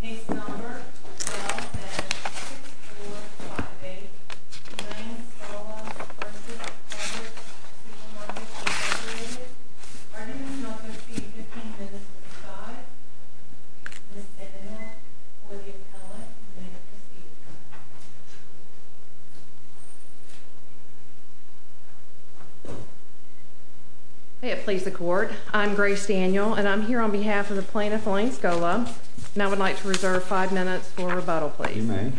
Case number 12-6458, Ryan-Scola v. Publix Super Markets Incorporated. Articles No. 15-55, Ms. Daniel for the appellate, and Ms. Piscica. May it please the court, I'm Grace Daniel, and I'm here on behalf of the plaintiff, Lane-Scola. And I would like to reserve five minutes for rebuttal, please. You may.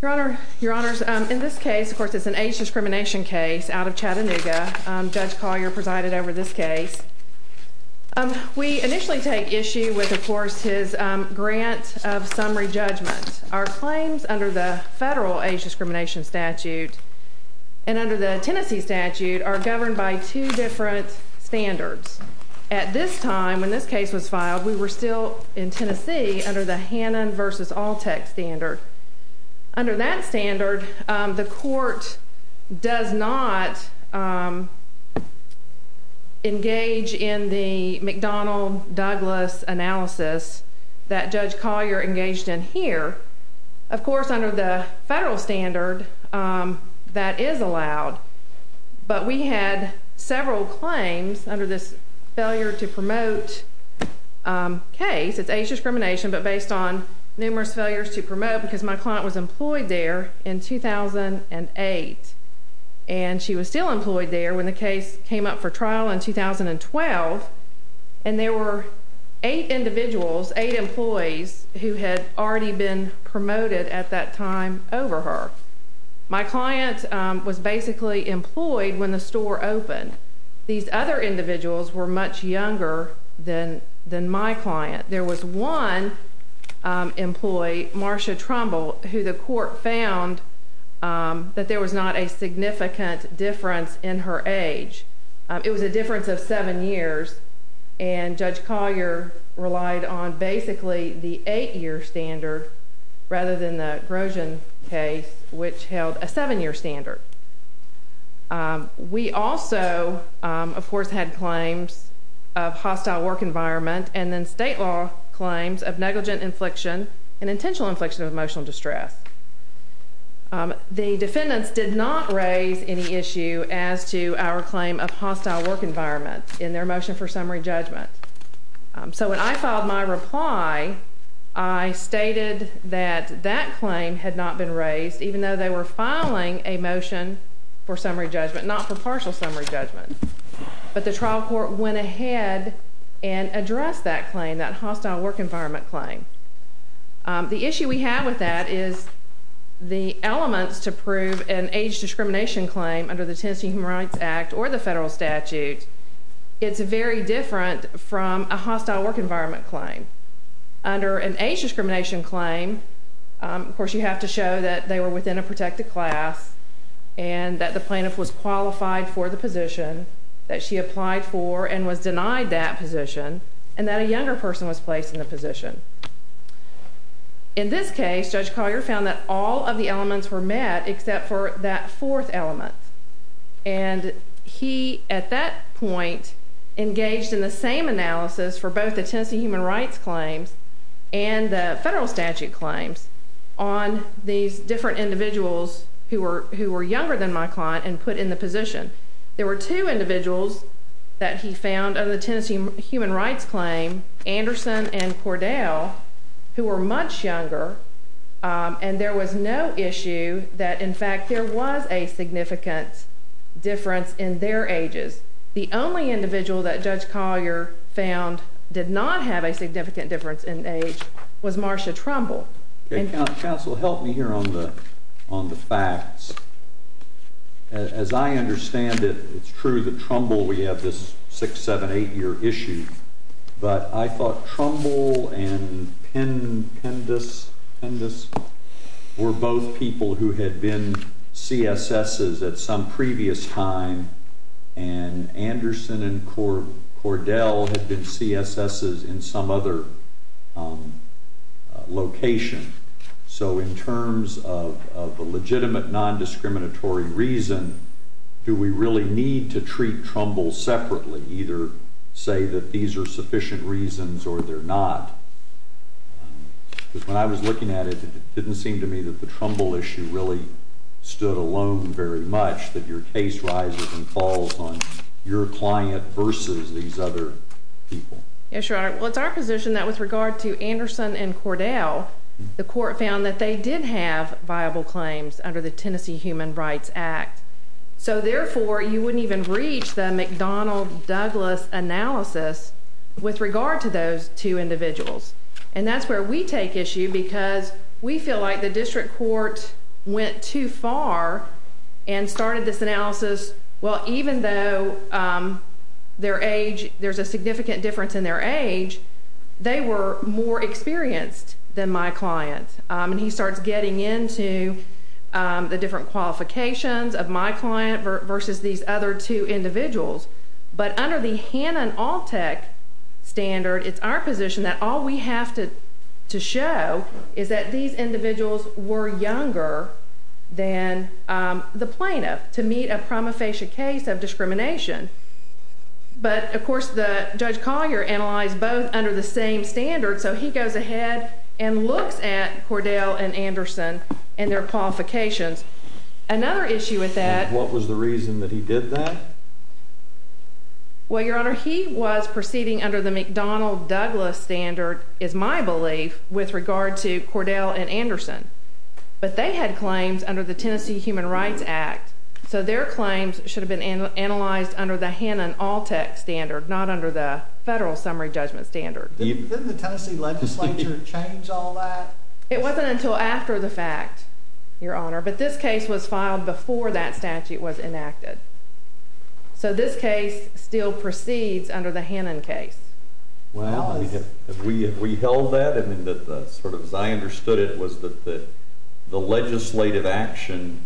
Your Honor, in this case, of course, it's an age discrimination case out of Chattanooga. Judge Collier presided over this case. We initially take issue with, of course, his grant of summary judgment. Our claims under the federal age discrimination statute and under the Tennessee statute are governed by two different standards. At this time, when this case was filed, we were still in Tennessee under the Hannon v. Altec standard. Under that standard, the court does not engage in the McDonnell-Douglas analysis that Judge Collier engaged in here. Of course, under the federal standard, that is allowed. But we had several claims under this failure to promote case. It's age discrimination, but based on numerous failures to promote because my client was employed there in 2008. And she was still employed there when the case came up for trial in 2012. And there were eight individuals, eight employees, who had already been promoted at that time over her. My client was basically employed when the store opened. These other individuals were much younger than my client. There was one employee, Marcia Trumbull, who the court found that there was not a significant difference in her age. It was a difference of seven years, and Judge Collier relied on basically the eight-year standard rather than the Grosjean case, which held a seven-year standard. We also, of course, had claims of hostile work environment and then state law claims of negligent infliction and intentional infliction of emotional distress. The defendants did not raise any issue as to our claim of hostile work environment in their motion for summary judgment. So when I filed my reply, I stated that that claim had not been raised, even though they were filing a motion for summary judgment, not for partial summary judgment. But the trial court went ahead and addressed that claim, that hostile work environment claim. The issue we have with that is the elements to prove an age discrimination claim under the Tennessee Human Rights Act or the federal statute, it's very different from a hostile work environment claim. Under an age discrimination claim, of course, you have to show that they were within a protected class and that the plaintiff was qualified for the position that she applied for and was denied that position and that a younger person was placed in the position. In this case, Judge Collier found that all of the elements were met except for that fourth element. And he, at that point, engaged in the same analysis for both the Tennessee human rights claims and the federal statute claims on these different individuals who were younger than my client and put in the position. There were two individuals that he found under the Tennessee human rights claim, Anderson and Cordell, who were much younger, and there was no issue that, in fact, there was a significant difference in their ages. The only individual that Judge Collier found did not have a significant difference in age was Marsha Trumbull. Counsel, help me here on the facts. As I understand it, it's true that Trumbull, we have this six-, seven-, eight-year issue, but I thought Trumbull and Pendous were both people who had been CSSs at some previous time and Anderson and Cordell had been CSSs in some other location. So in terms of the legitimate nondiscriminatory reason, do we really need to treat Trumbull separately, either say that these are sufficient reasons or they're not? Because when I was looking at it, it didn't seem to me that the Trumbull issue really stood alone very much, that your case rises and falls on your client versus these other people. Yes, Your Honor. Well, it's our position that with regard to Anderson and Cordell, the court found that they did have viable claims under the Tennessee Human Rights Act. So therefore, you wouldn't even reach the McDonnell-Douglas analysis with regard to those two individuals. And that's where we take issue because we feel like the district court went too far and started this analysis, well, even though there's a significant difference in their age, they were more experienced than my client. And he starts getting into the different qualifications of my client versus these other two individuals. But under the Hannon-Altec standard, it's our position that all we have to show is that these individuals were younger than the plaintiff to meet a promofacia case of discrimination. But, of course, Judge Collier analyzed both under the same standard, so he goes ahead and looks at Cordell and Anderson and their qualifications. And what was the reason that he did that? Well, Your Honor, he was proceeding under the McDonnell-Douglas standard, is my belief, with regard to Cordell and Anderson. But they had claims under the Tennessee Human Rights Act, so their claims should have been analyzed under the Hannon-Altec standard, not under the federal summary judgment standard. Didn't the Tennessee legislature change all that? It wasn't until after the fact, Your Honor, but this case was filed before that statute was enacted. So this case still proceeds under the Hannon case. Well, we held that. I mean, sort of as I understood it was that the legislative action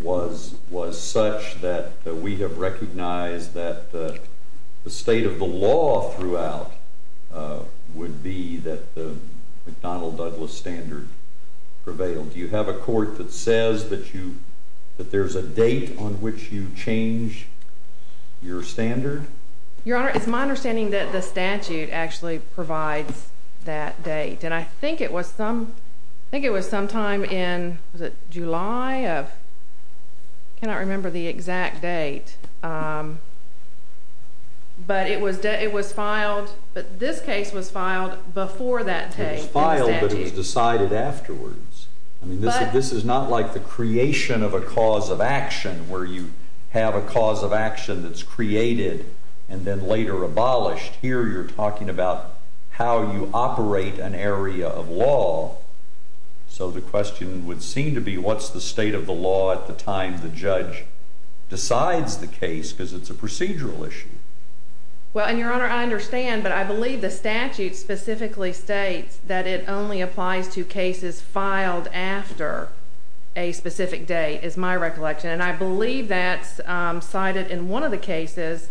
was such that we have recognized that the state of the law throughout would be that the McDonnell-Douglas standard prevailed. Do you have a court that says that there's a date on which you change your standard? Your Honor, it's my understanding that the statute actually provides that date, and I think it was sometime in July of—I cannot remember the exact date. But it was filed—this case was filed before that date. It was filed, but it was decided afterwards. I mean, this is not like the creation of a cause of action, where you have a cause of action that's created and then later abolished. Here you're talking about how you operate an area of law. So the question would seem to be what's the state of the law at the time the judge decides the case because it's a procedural issue. Well, and, Your Honor, I understand, but I believe the statute specifically states that it only applies to cases filed after a specific date, is my recollection. And I believe that's cited in one of the cases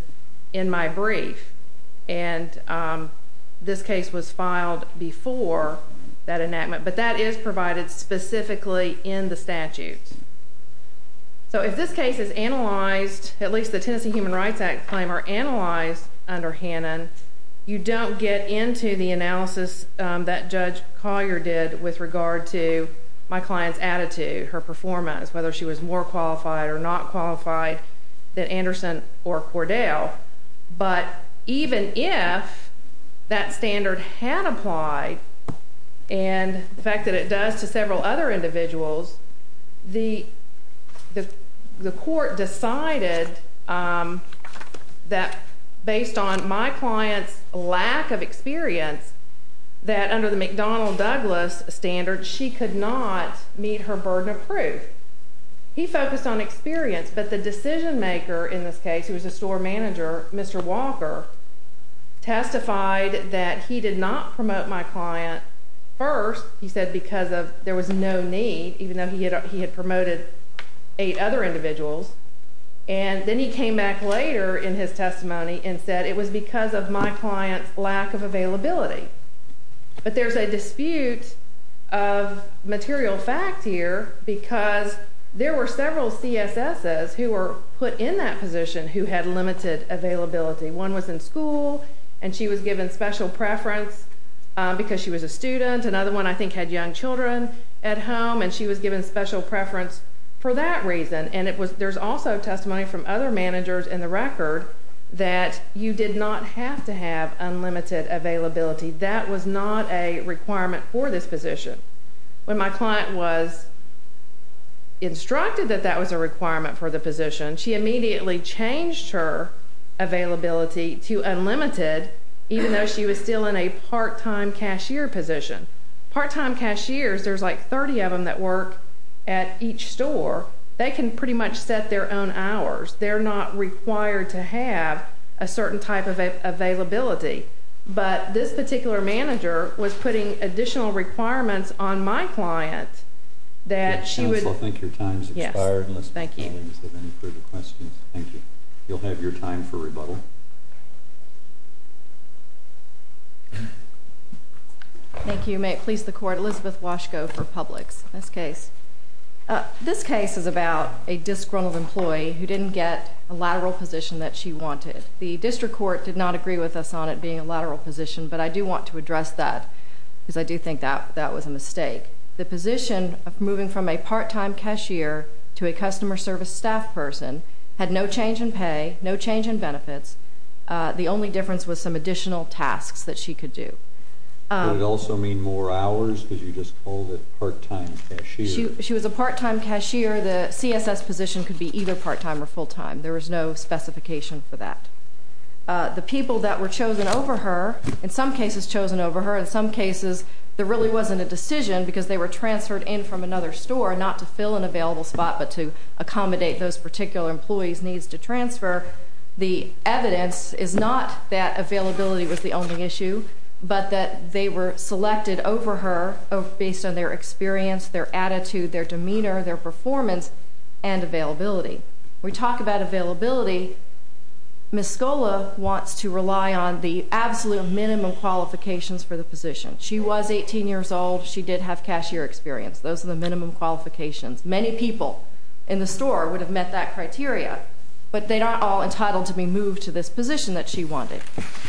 in my brief. And this case was filed before that enactment, but that is provided specifically in the statute. So if this case is analyzed, at least the Tennessee Human Rights Act claim are analyzed under Hannon, you don't get into the analysis that Judge Collier did with regard to my client's attitude, her performance, whether she was more qualified or not qualified than Anderson or Cordell. But even if that standard had applied, and the fact that it does to several other individuals, the court decided that based on my client's lack of experience, that under the McDonnell-Douglas standard, she could not meet her burden of proof. He focused on experience, but the decision maker in this case, who was a store manager, Mr. Walker, testified that he did not promote my client first, he said, because there was no need, even though he had promoted eight other individuals. And then he came back later in his testimony and said it was because of my client's lack of availability. But there's a dispute of material fact here, because there were several CSSs who were put in that position who had limited availability. One was in school, and she was given special preference because she was a student. Another one, I think, had young children at home, and she was given special preference for that reason. And there's also testimony from other managers in the record that you did not have to have unlimited availability. That was not a requirement for this position. When my client was instructed that that was a requirement for the position, she immediately changed her availability to unlimited, even though she was still in a part-time cashier position. Part-time cashiers, there's like 30 of them that work at each store. They can pretty much set their own hours. They're not required to have a certain type of availability. But this particular manager was putting additional requirements on my client that she would... Counsel, I think your time has expired. Yes, thank you. And let's move on to any further questions. Thank you. You'll have your time for rebuttal. Thank you. May it please the Court, Elizabeth Washko for Publix. This case is about a disgruntled employee who didn't get a lateral position that she wanted. The district court did not agree with us on it being a lateral position, but I do want to address that because I do think that was a mistake. The position of moving from a part-time cashier to a customer service staff person had no change in pay, no change in benefits. The only difference was some additional tasks that she could do. Would it also mean more hours because you just called it part-time cashier? She was a part-time cashier. The CSS position could be either part-time or full-time. There was no specification for that. The people that were chosen over her, in some cases chosen over her, in some cases there really wasn't a decision because they were transferred in from another store not to fill an available spot but to accommodate those particular employees' needs to transfer. The evidence is not that availability was the only issue, but that they were selected over her based on their experience, their attitude, their demeanor, their performance, and availability. When we talk about availability, Ms. Scola wants to rely on the absolute minimum qualifications for the position. She was 18 years old. She did have cashier experience. Those are the minimum qualifications. Many people in the store would have met that criteria, but they're not all entitled to be moved to this position that she wanted.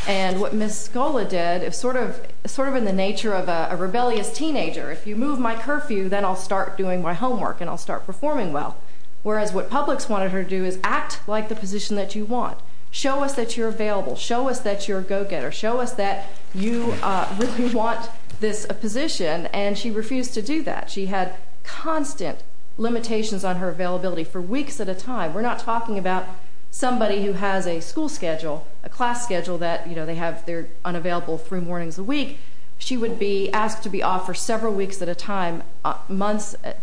And what Ms. Scola did, sort of in the nature of a rebellious teenager, if you move my curfew, then I'll start doing my homework and I'll start performing well. Whereas what Publix wanted her to do is act like the position that you want, show us that you're available, show us that you're a go-getter, show us that you really want this position, and she refused to do that. She had constant limitations on her availability for weeks at a time. We're not talking about somebody who has a school schedule, a class schedule that they're unavailable three mornings a week. She would be asked to be off for several weeks at a time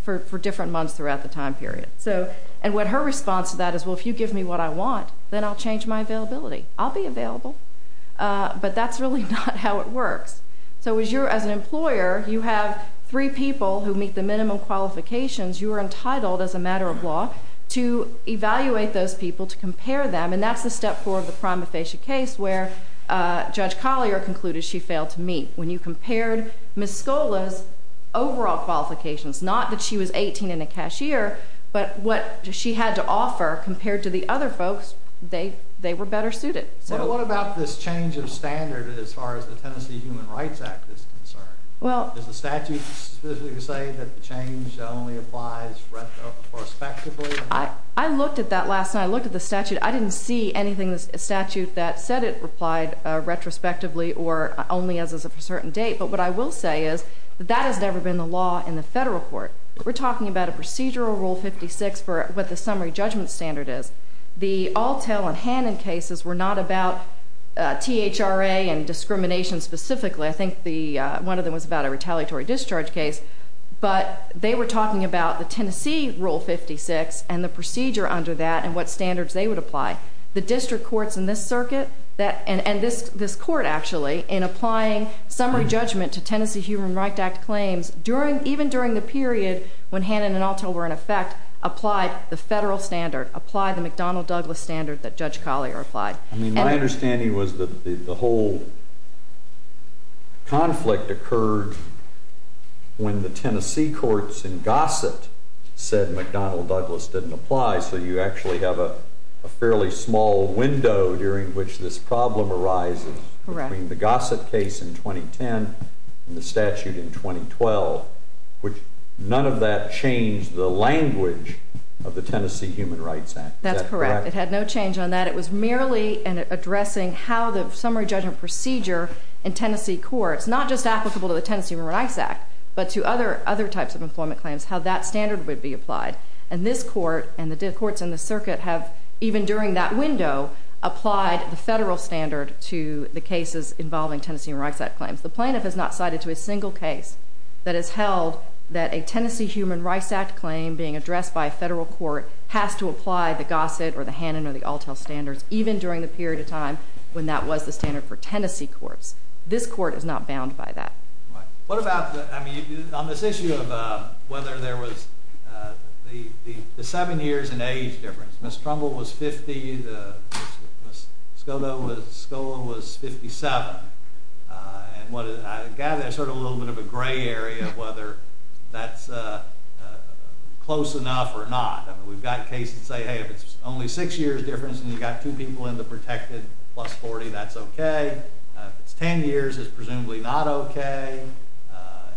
for different months throughout the time period. And her response to that is, well, if you give me what I want, then I'll change my availability. I'll be available, but that's really not how it works. So as an employer, you have three people who meet the minimum qualifications. You are entitled, as a matter of law, to evaluate those people, to compare them, and that's the step four of the prima facie case where Judge Collier concluded she failed to meet. When you compared Ms. Scola's overall qualifications, not that she was 18 and a cashier, but what she had to offer compared to the other folks, they were better suited. What about this change of standard as far as the Tennessee Human Rights Act is concerned? Does the statute specifically say that the change only applies retrospectively? I looked at that last night. I looked at the statute. I didn't see anything in the statute that said it applied retrospectively or only as of a certain date. But what I will say is that that has never been the law in the federal court. We're talking about a procedural Rule 56 for what the summary judgment standard is. The Altell and Hannon cases were not about THRA and discrimination specifically. I think one of them was about a retaliatory discharge case, but they were talking about the Tennessee Rule 56 and the procedure under that and what standards they would apply. The district courts in this circuit and this court, actually, in applying summary judgment to Tennessee Human Rights Act claims, even during the period when Hannon and Altell were in effect, applied the federal standard, applied the McDonnell-Douglas standard that Judge Collier applied. My understanding was that the whole conflict occurred when the Tennessee courts in Gossett said McDonnell-Douglas didn't apply, so you actually have a fairly small window during which this problem arises between the Gossett case in 2010 and the statute in 2012. None of that changed the language of the Tennessee Human Rights Act. Is that correct? That's correct. It had no change on that. It was merely addressing how the summary judgment procedure in Tennessee courts, not just applicable to the Tennessee Human Rights Act, but to other types of employment claims, how that standard would be applied. And this court and the courts in this circuit have, even during that window, applied the federal standard to the cases involving Tennessee Human Rights Act claims. The plaintiff has not cited to a single case that has held that a Tennessee Human Rights Act claim being addressed by a federal court has to apply the Gossett or the Hannon or the Altell standards, even during the period of time when that was the standard for Tennessee courts. This court is not bound by that. Right. What about, I mean, on this issue of whether there was the seven years and age difference, Ms. Trumbull was 50, Ms. Scola was 57, and I gather there's sort of a little bit of a gray area of whether that's close enough or not. I mean, we've got cases that say, hey, if it's only six years difference and you've got two people in the protected plus 40, that's okay. If it's 10 years, it's presumably not okay.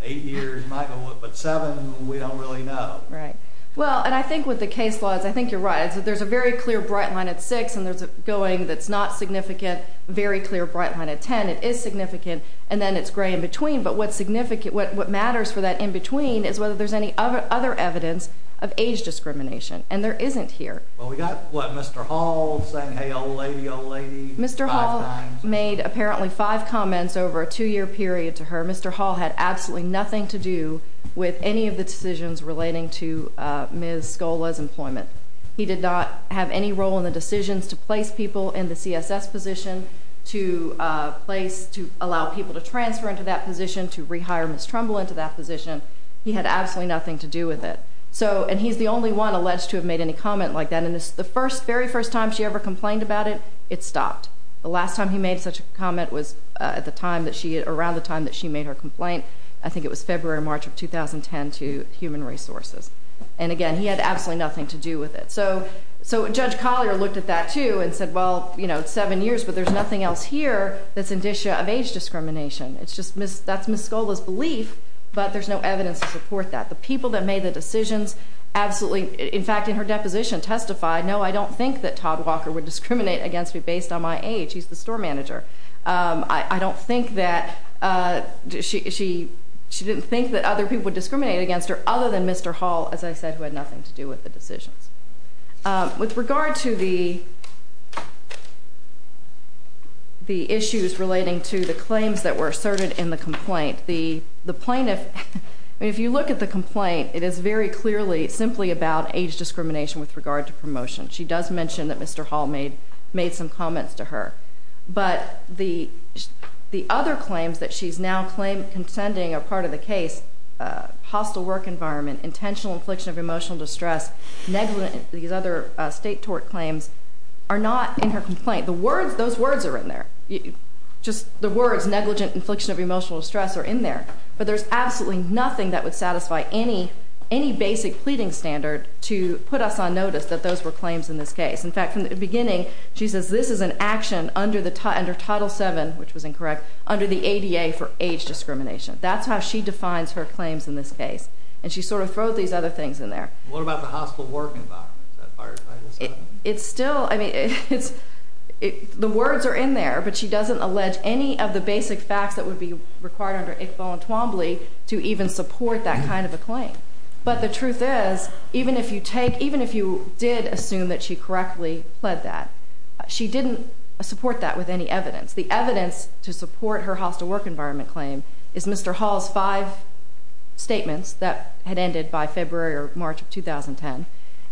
Eight years might be, but seven, we don't really know. Right. Well, and I think with the case laws, I think you're right. There's a very clear bright line at six, and there's a going that's not significant, very clear bright line at 10. It is significant, and then it's gray in between. But what matters for that in between is whether there's any other evidence of age discrimination, and there isn't here. Well, we've got, what, Mr. Hall saying, hey, old lady, old lady, five times. Mr. Hall made apparently five comments over a two-year period to her. Mr. Hall had absolutely nothing to do with any of the decisions relating to Ms. Scola's employment. He did not have any role in the decisions to place people in the CSS position, to place, to allow people to transfer into that position, to rehire Ms. Trumbull into that position. He had absolutely nothing to do with it. So, and he's the only one alleged to have made any comment like that. And the first, very first time she ever complained about it, it stopped. The last time he made such a comment was around the time that she made her complaint. I think it was February or March of 2010 to Human Resources. And again, he had absolutely nothing to do with it. So, Judge Collier looked at that too and said, well, it's seven years, but there's nothing else here that's indicia of age discrimination. It's just, that's Ms. Scola's belief, but there's no evidence to support that. The people that made the decisions absolutely, in fact, in her deposition testified, no, I don't think that Todd Walker would discriminate against me based on my age. He's the store manager. I don't think that, she didn't think that other people would discriminate against her, other than Mr. Hall, as I said, who had nothing to do with the decisions. With regard to the issues relating to the claims that were asserted in the complaint, the plaintiff, if you look at the complaint, it is very clearly, simply about age discrimination with regard to promotion. She does mention that Mr. Hall made some comments to her. But the other claims that she's now claimed contending are part of the case, hostile work environment, intentional infliction of emotional distress, these other state tort claims are not in her complaint. Those words are in there. Just the words negligent infliction of emotional distress are in there. But there's absolutely nothing that would satisfy any basic pleading standard to put us on notice that those were claims in this case. In fact, from the beginning, she says this is an action under Title VII, which was incorrect, under the ADA for age discrimination. That's how she defines her claims in this case. And she sort of throws these other things in there. What about the hostile work environment? Is that part of Title VII? It's still, I mean, it's, the words are in there, but she doesn't allege any of the basic facts that would be required under ICFO and Twombly to even support that kind of a claim. But the truth is, even if you take, even if you did assume that she correctly pled that, she didn't support that with any evidence. The evidence to support her hostile work environment claim is Mr. Hall's five statements that had ended by February or March of 2010,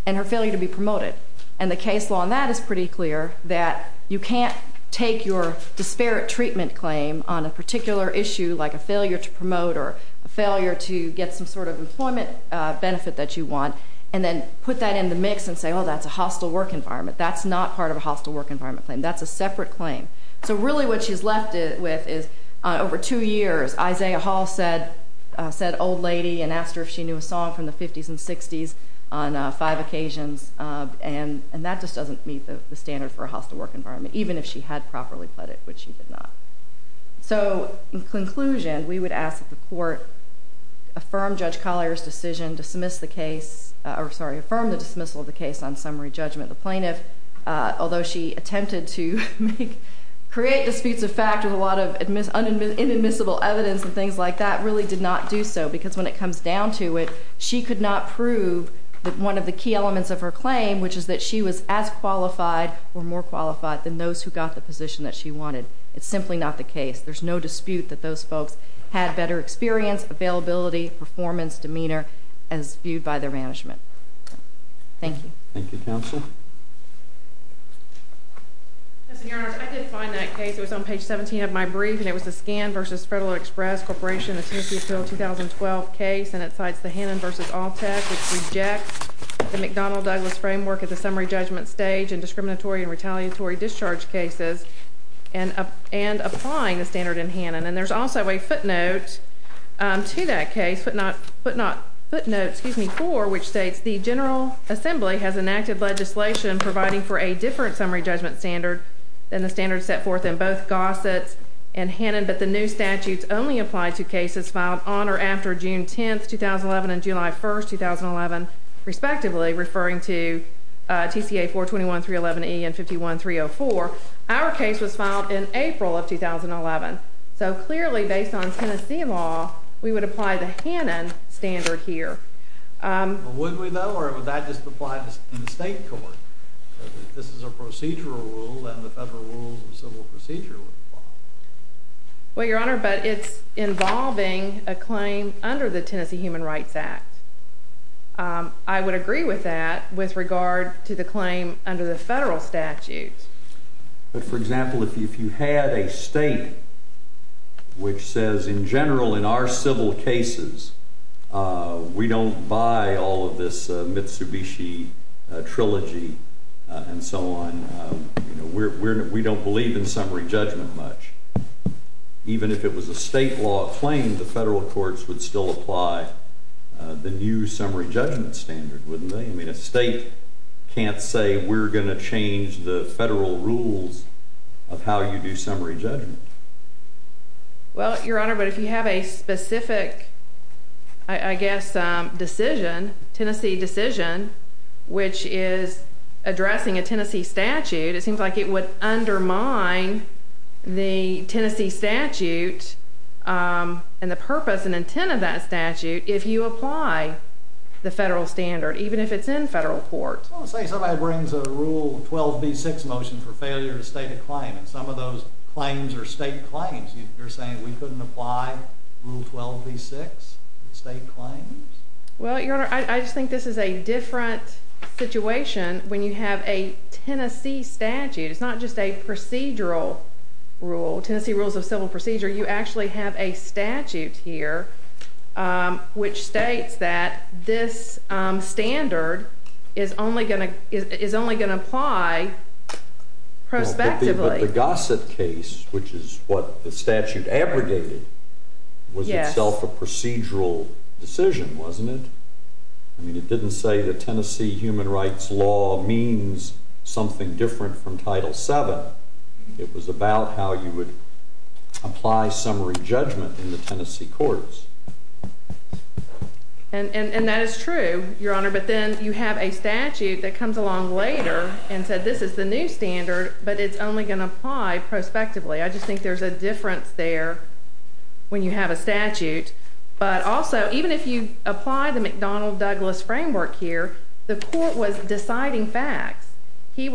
and her failure to be promoted. And the case law on that is pretty clear, that you can't take your disparate treatment claim on a particular issue, like a failure to promote or a failure to get some sort of employment benefit that you want, and then put that in the mix and say, oh, that's a hostile work environment. That's not part of a hostile work environment claim. That's a separate claim. So really what she's left with is, over two years, Isaiah Hall said old lady and asked her if she knew a song from the 50s and 60s on five occasions, and that just doesn't meet the standard for a hostile work environment, even if she had properly pled it, which she did not. So, in conclusion, we would ask that the court affirm Judge Collier's decision, dismiss the case, or, sorry, affirm the dismissal of the case on summary judgment of the plaintiff, although she attempted to create disputes of fact with a lot of inadmissible evidence and things like that, really did not do so, because when it comes down to it, she could not prove that one of the key elements of her claim, which is that she was as qualified or more qualified than those who got the position that she wanted. It's simply not the case. There's no dispute that those folks had better experience, availability, performance, demeanor, as viewed by their management. Thank you. Thank you, Counsel. Yes, and, Your Honors, I did find that case. It was on page 17 of my brief, and it was the Scan v. Federal Express Corporation, a Tennessee Appeal 2012 case, and it cites the Hannon v. Alltech, which rejects the McDonnell-Douglas framework at the summary judgment stage in discriminatory and retaliatory discharge cases and applying the standard in Hannon. And there's also a footnote to that case, footnote four, which states, the General Assembly has enacted legislation providing for a different summary judgment standard than the standard set forth in both Gossett's and Hannon, but the new statutes only apply to cases filed on or after June 10, 2011, and July 1, 2011, respectively, referring to TCA 421.311e and 51.304. Our case was filed in April of 2011. So clearly, based on Tennessee law, we would apply the Hannon standard here. Would we, though, or would that just apply in the state court? This is a procedural rule, and the federal rules of civil procedure would apply. Well, Your Honor, but it's involving a claim under the Tennessee Human Rights Act. I would agree with that with regard to the claim under the federal statute. But, for example, if you had a state which says, in general, in our civil cases, we don't buy all of this Mitsubishi trilogy and so on. We don't believe in summary judgment much. Even if it was a state law claim, the federal courts would still apply the new summary judgment standard, wouldn't they? I mean, a state can't say we're going to change the federal rules of how you do summary judgment. Well, Your Honor, but if you have a specific, I guess, decision, Tennessee decision, which is addressing a Tennessee statute, it seems like it would undermine the Tennessee statute and the purpose and intent of that statute if you apply the federal standard, even if it's in federal court. Well, say somebody brings a Rule 12b-6 motion for failure to state a claim, and some of those claims are state claims. You're saying we couldn't apply Rule 12b-6 to state claims? Well, Your Honor, I just think this is a different situation when you have a Tennessee statute. It's not just a procedural rule, Tennessee rules of civil procedure. You actually have a statute here which states that this standard is only going to apply prospectively. But the Gossett case, which is what the statute abrogated, was itself a procedural decision, wasn't it? I mean, it didn't say that Tennessee human rights law means something different from Title VII. It was about how you would apply summary judgment in the Tennessee courts. And that is true, Your Honor, but then you have a statute that comes along later and said this is the new standard, but it's only going to apply prospectively. I just think there's a difference there when you have a statute. But also, even if you apply the McDonnell-Douglas framework here, the court was deciding facts. These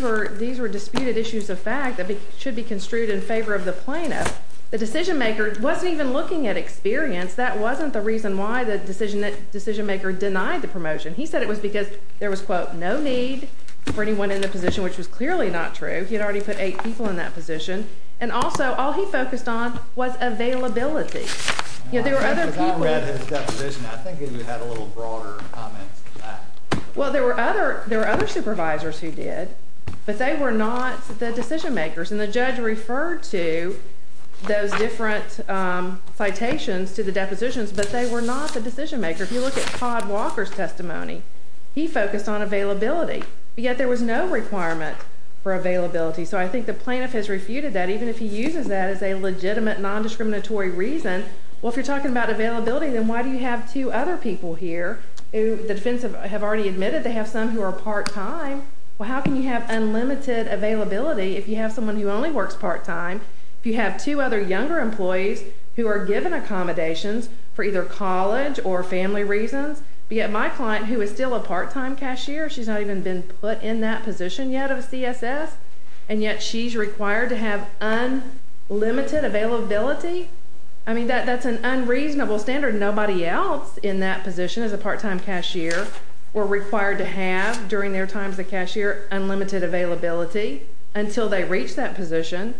were disputed issues of fact that should be construed in favor of the plaintiff. The decisionmaker wasn't even looking at experience. That wasn't the reason why the decisionmaker denied the promotion. He said it was because there was, quote, no need for anyone in the position, which was clearly not true. He had already put eight people in that position. And also, all he focused on was availability. I read his definition. I think he had a little broader comment to that. Well, there were other supervisors who did, but they were not the decisionmakers. And the judge referred to those different citations to the depositions, but they were not the decisionmaker. If you look at Todd Walker's testimony, he focused on availability, yet there was no requirement for availability. So I think the plaintiff has refuted that. Even if he uses that as a legitimate, nondiscriminatory reason, well, if you're talking about availability, then why do you have two other people here who the defense have already admitted they have some who are part-time? Well, how can you have unlimited availability if you have someone who only works part-time, if you have two other younger employees who are given accommodations for either college or family reasons, but yet my client, who is still a part-time cashier, she's not even been put in that position yet of a CSS, and yet she's required to have unlimited availability? I mean, that's an unreasonable standard. Nobody else in that position as a part-time cashier were required to have, during their time as a cashier, unlimited availability until they reached that position.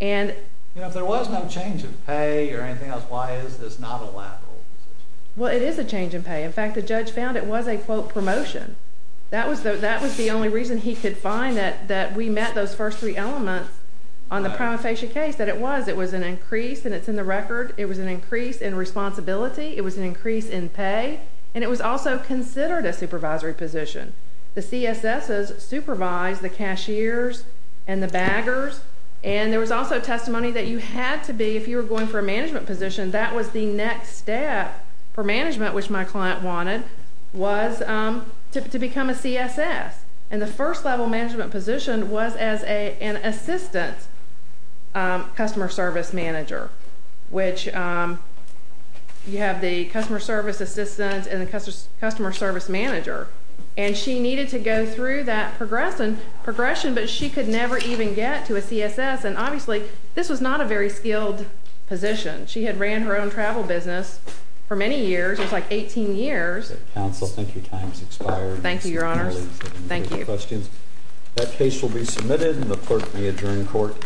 If there was no change in pay or anything else, why is this not a lateral decision? Well, it is a change in pay. In fact, the judge found it was a, quote, promotion. That was the only reason he could find that we met those first three elements on the prima facie case, that it was. It was an increase, and it's in the record. It was an increase in responsibility. It was an increase in pay, and it was also considered a supervisory position. The CSSs supervised the cashiers and the baggers, and there was also testimony that you had to be, if you were going for a management position, that was the next step for management, which my client wanted, was to become a CSS. And the first level management position was as an assistant customer service manager, which you have the customer service assistant and the customer service manager. And she needed to go through that progression, but she could never even get to a CSS, and obviously this was not a very skilled position. She had ran her own travel business for many years. It was like 18 years. Counsel, I think your time has expired. Thank you, Your Honors. Thank you. Questions? That case will be submitted, and the clerk will be adjourned in court.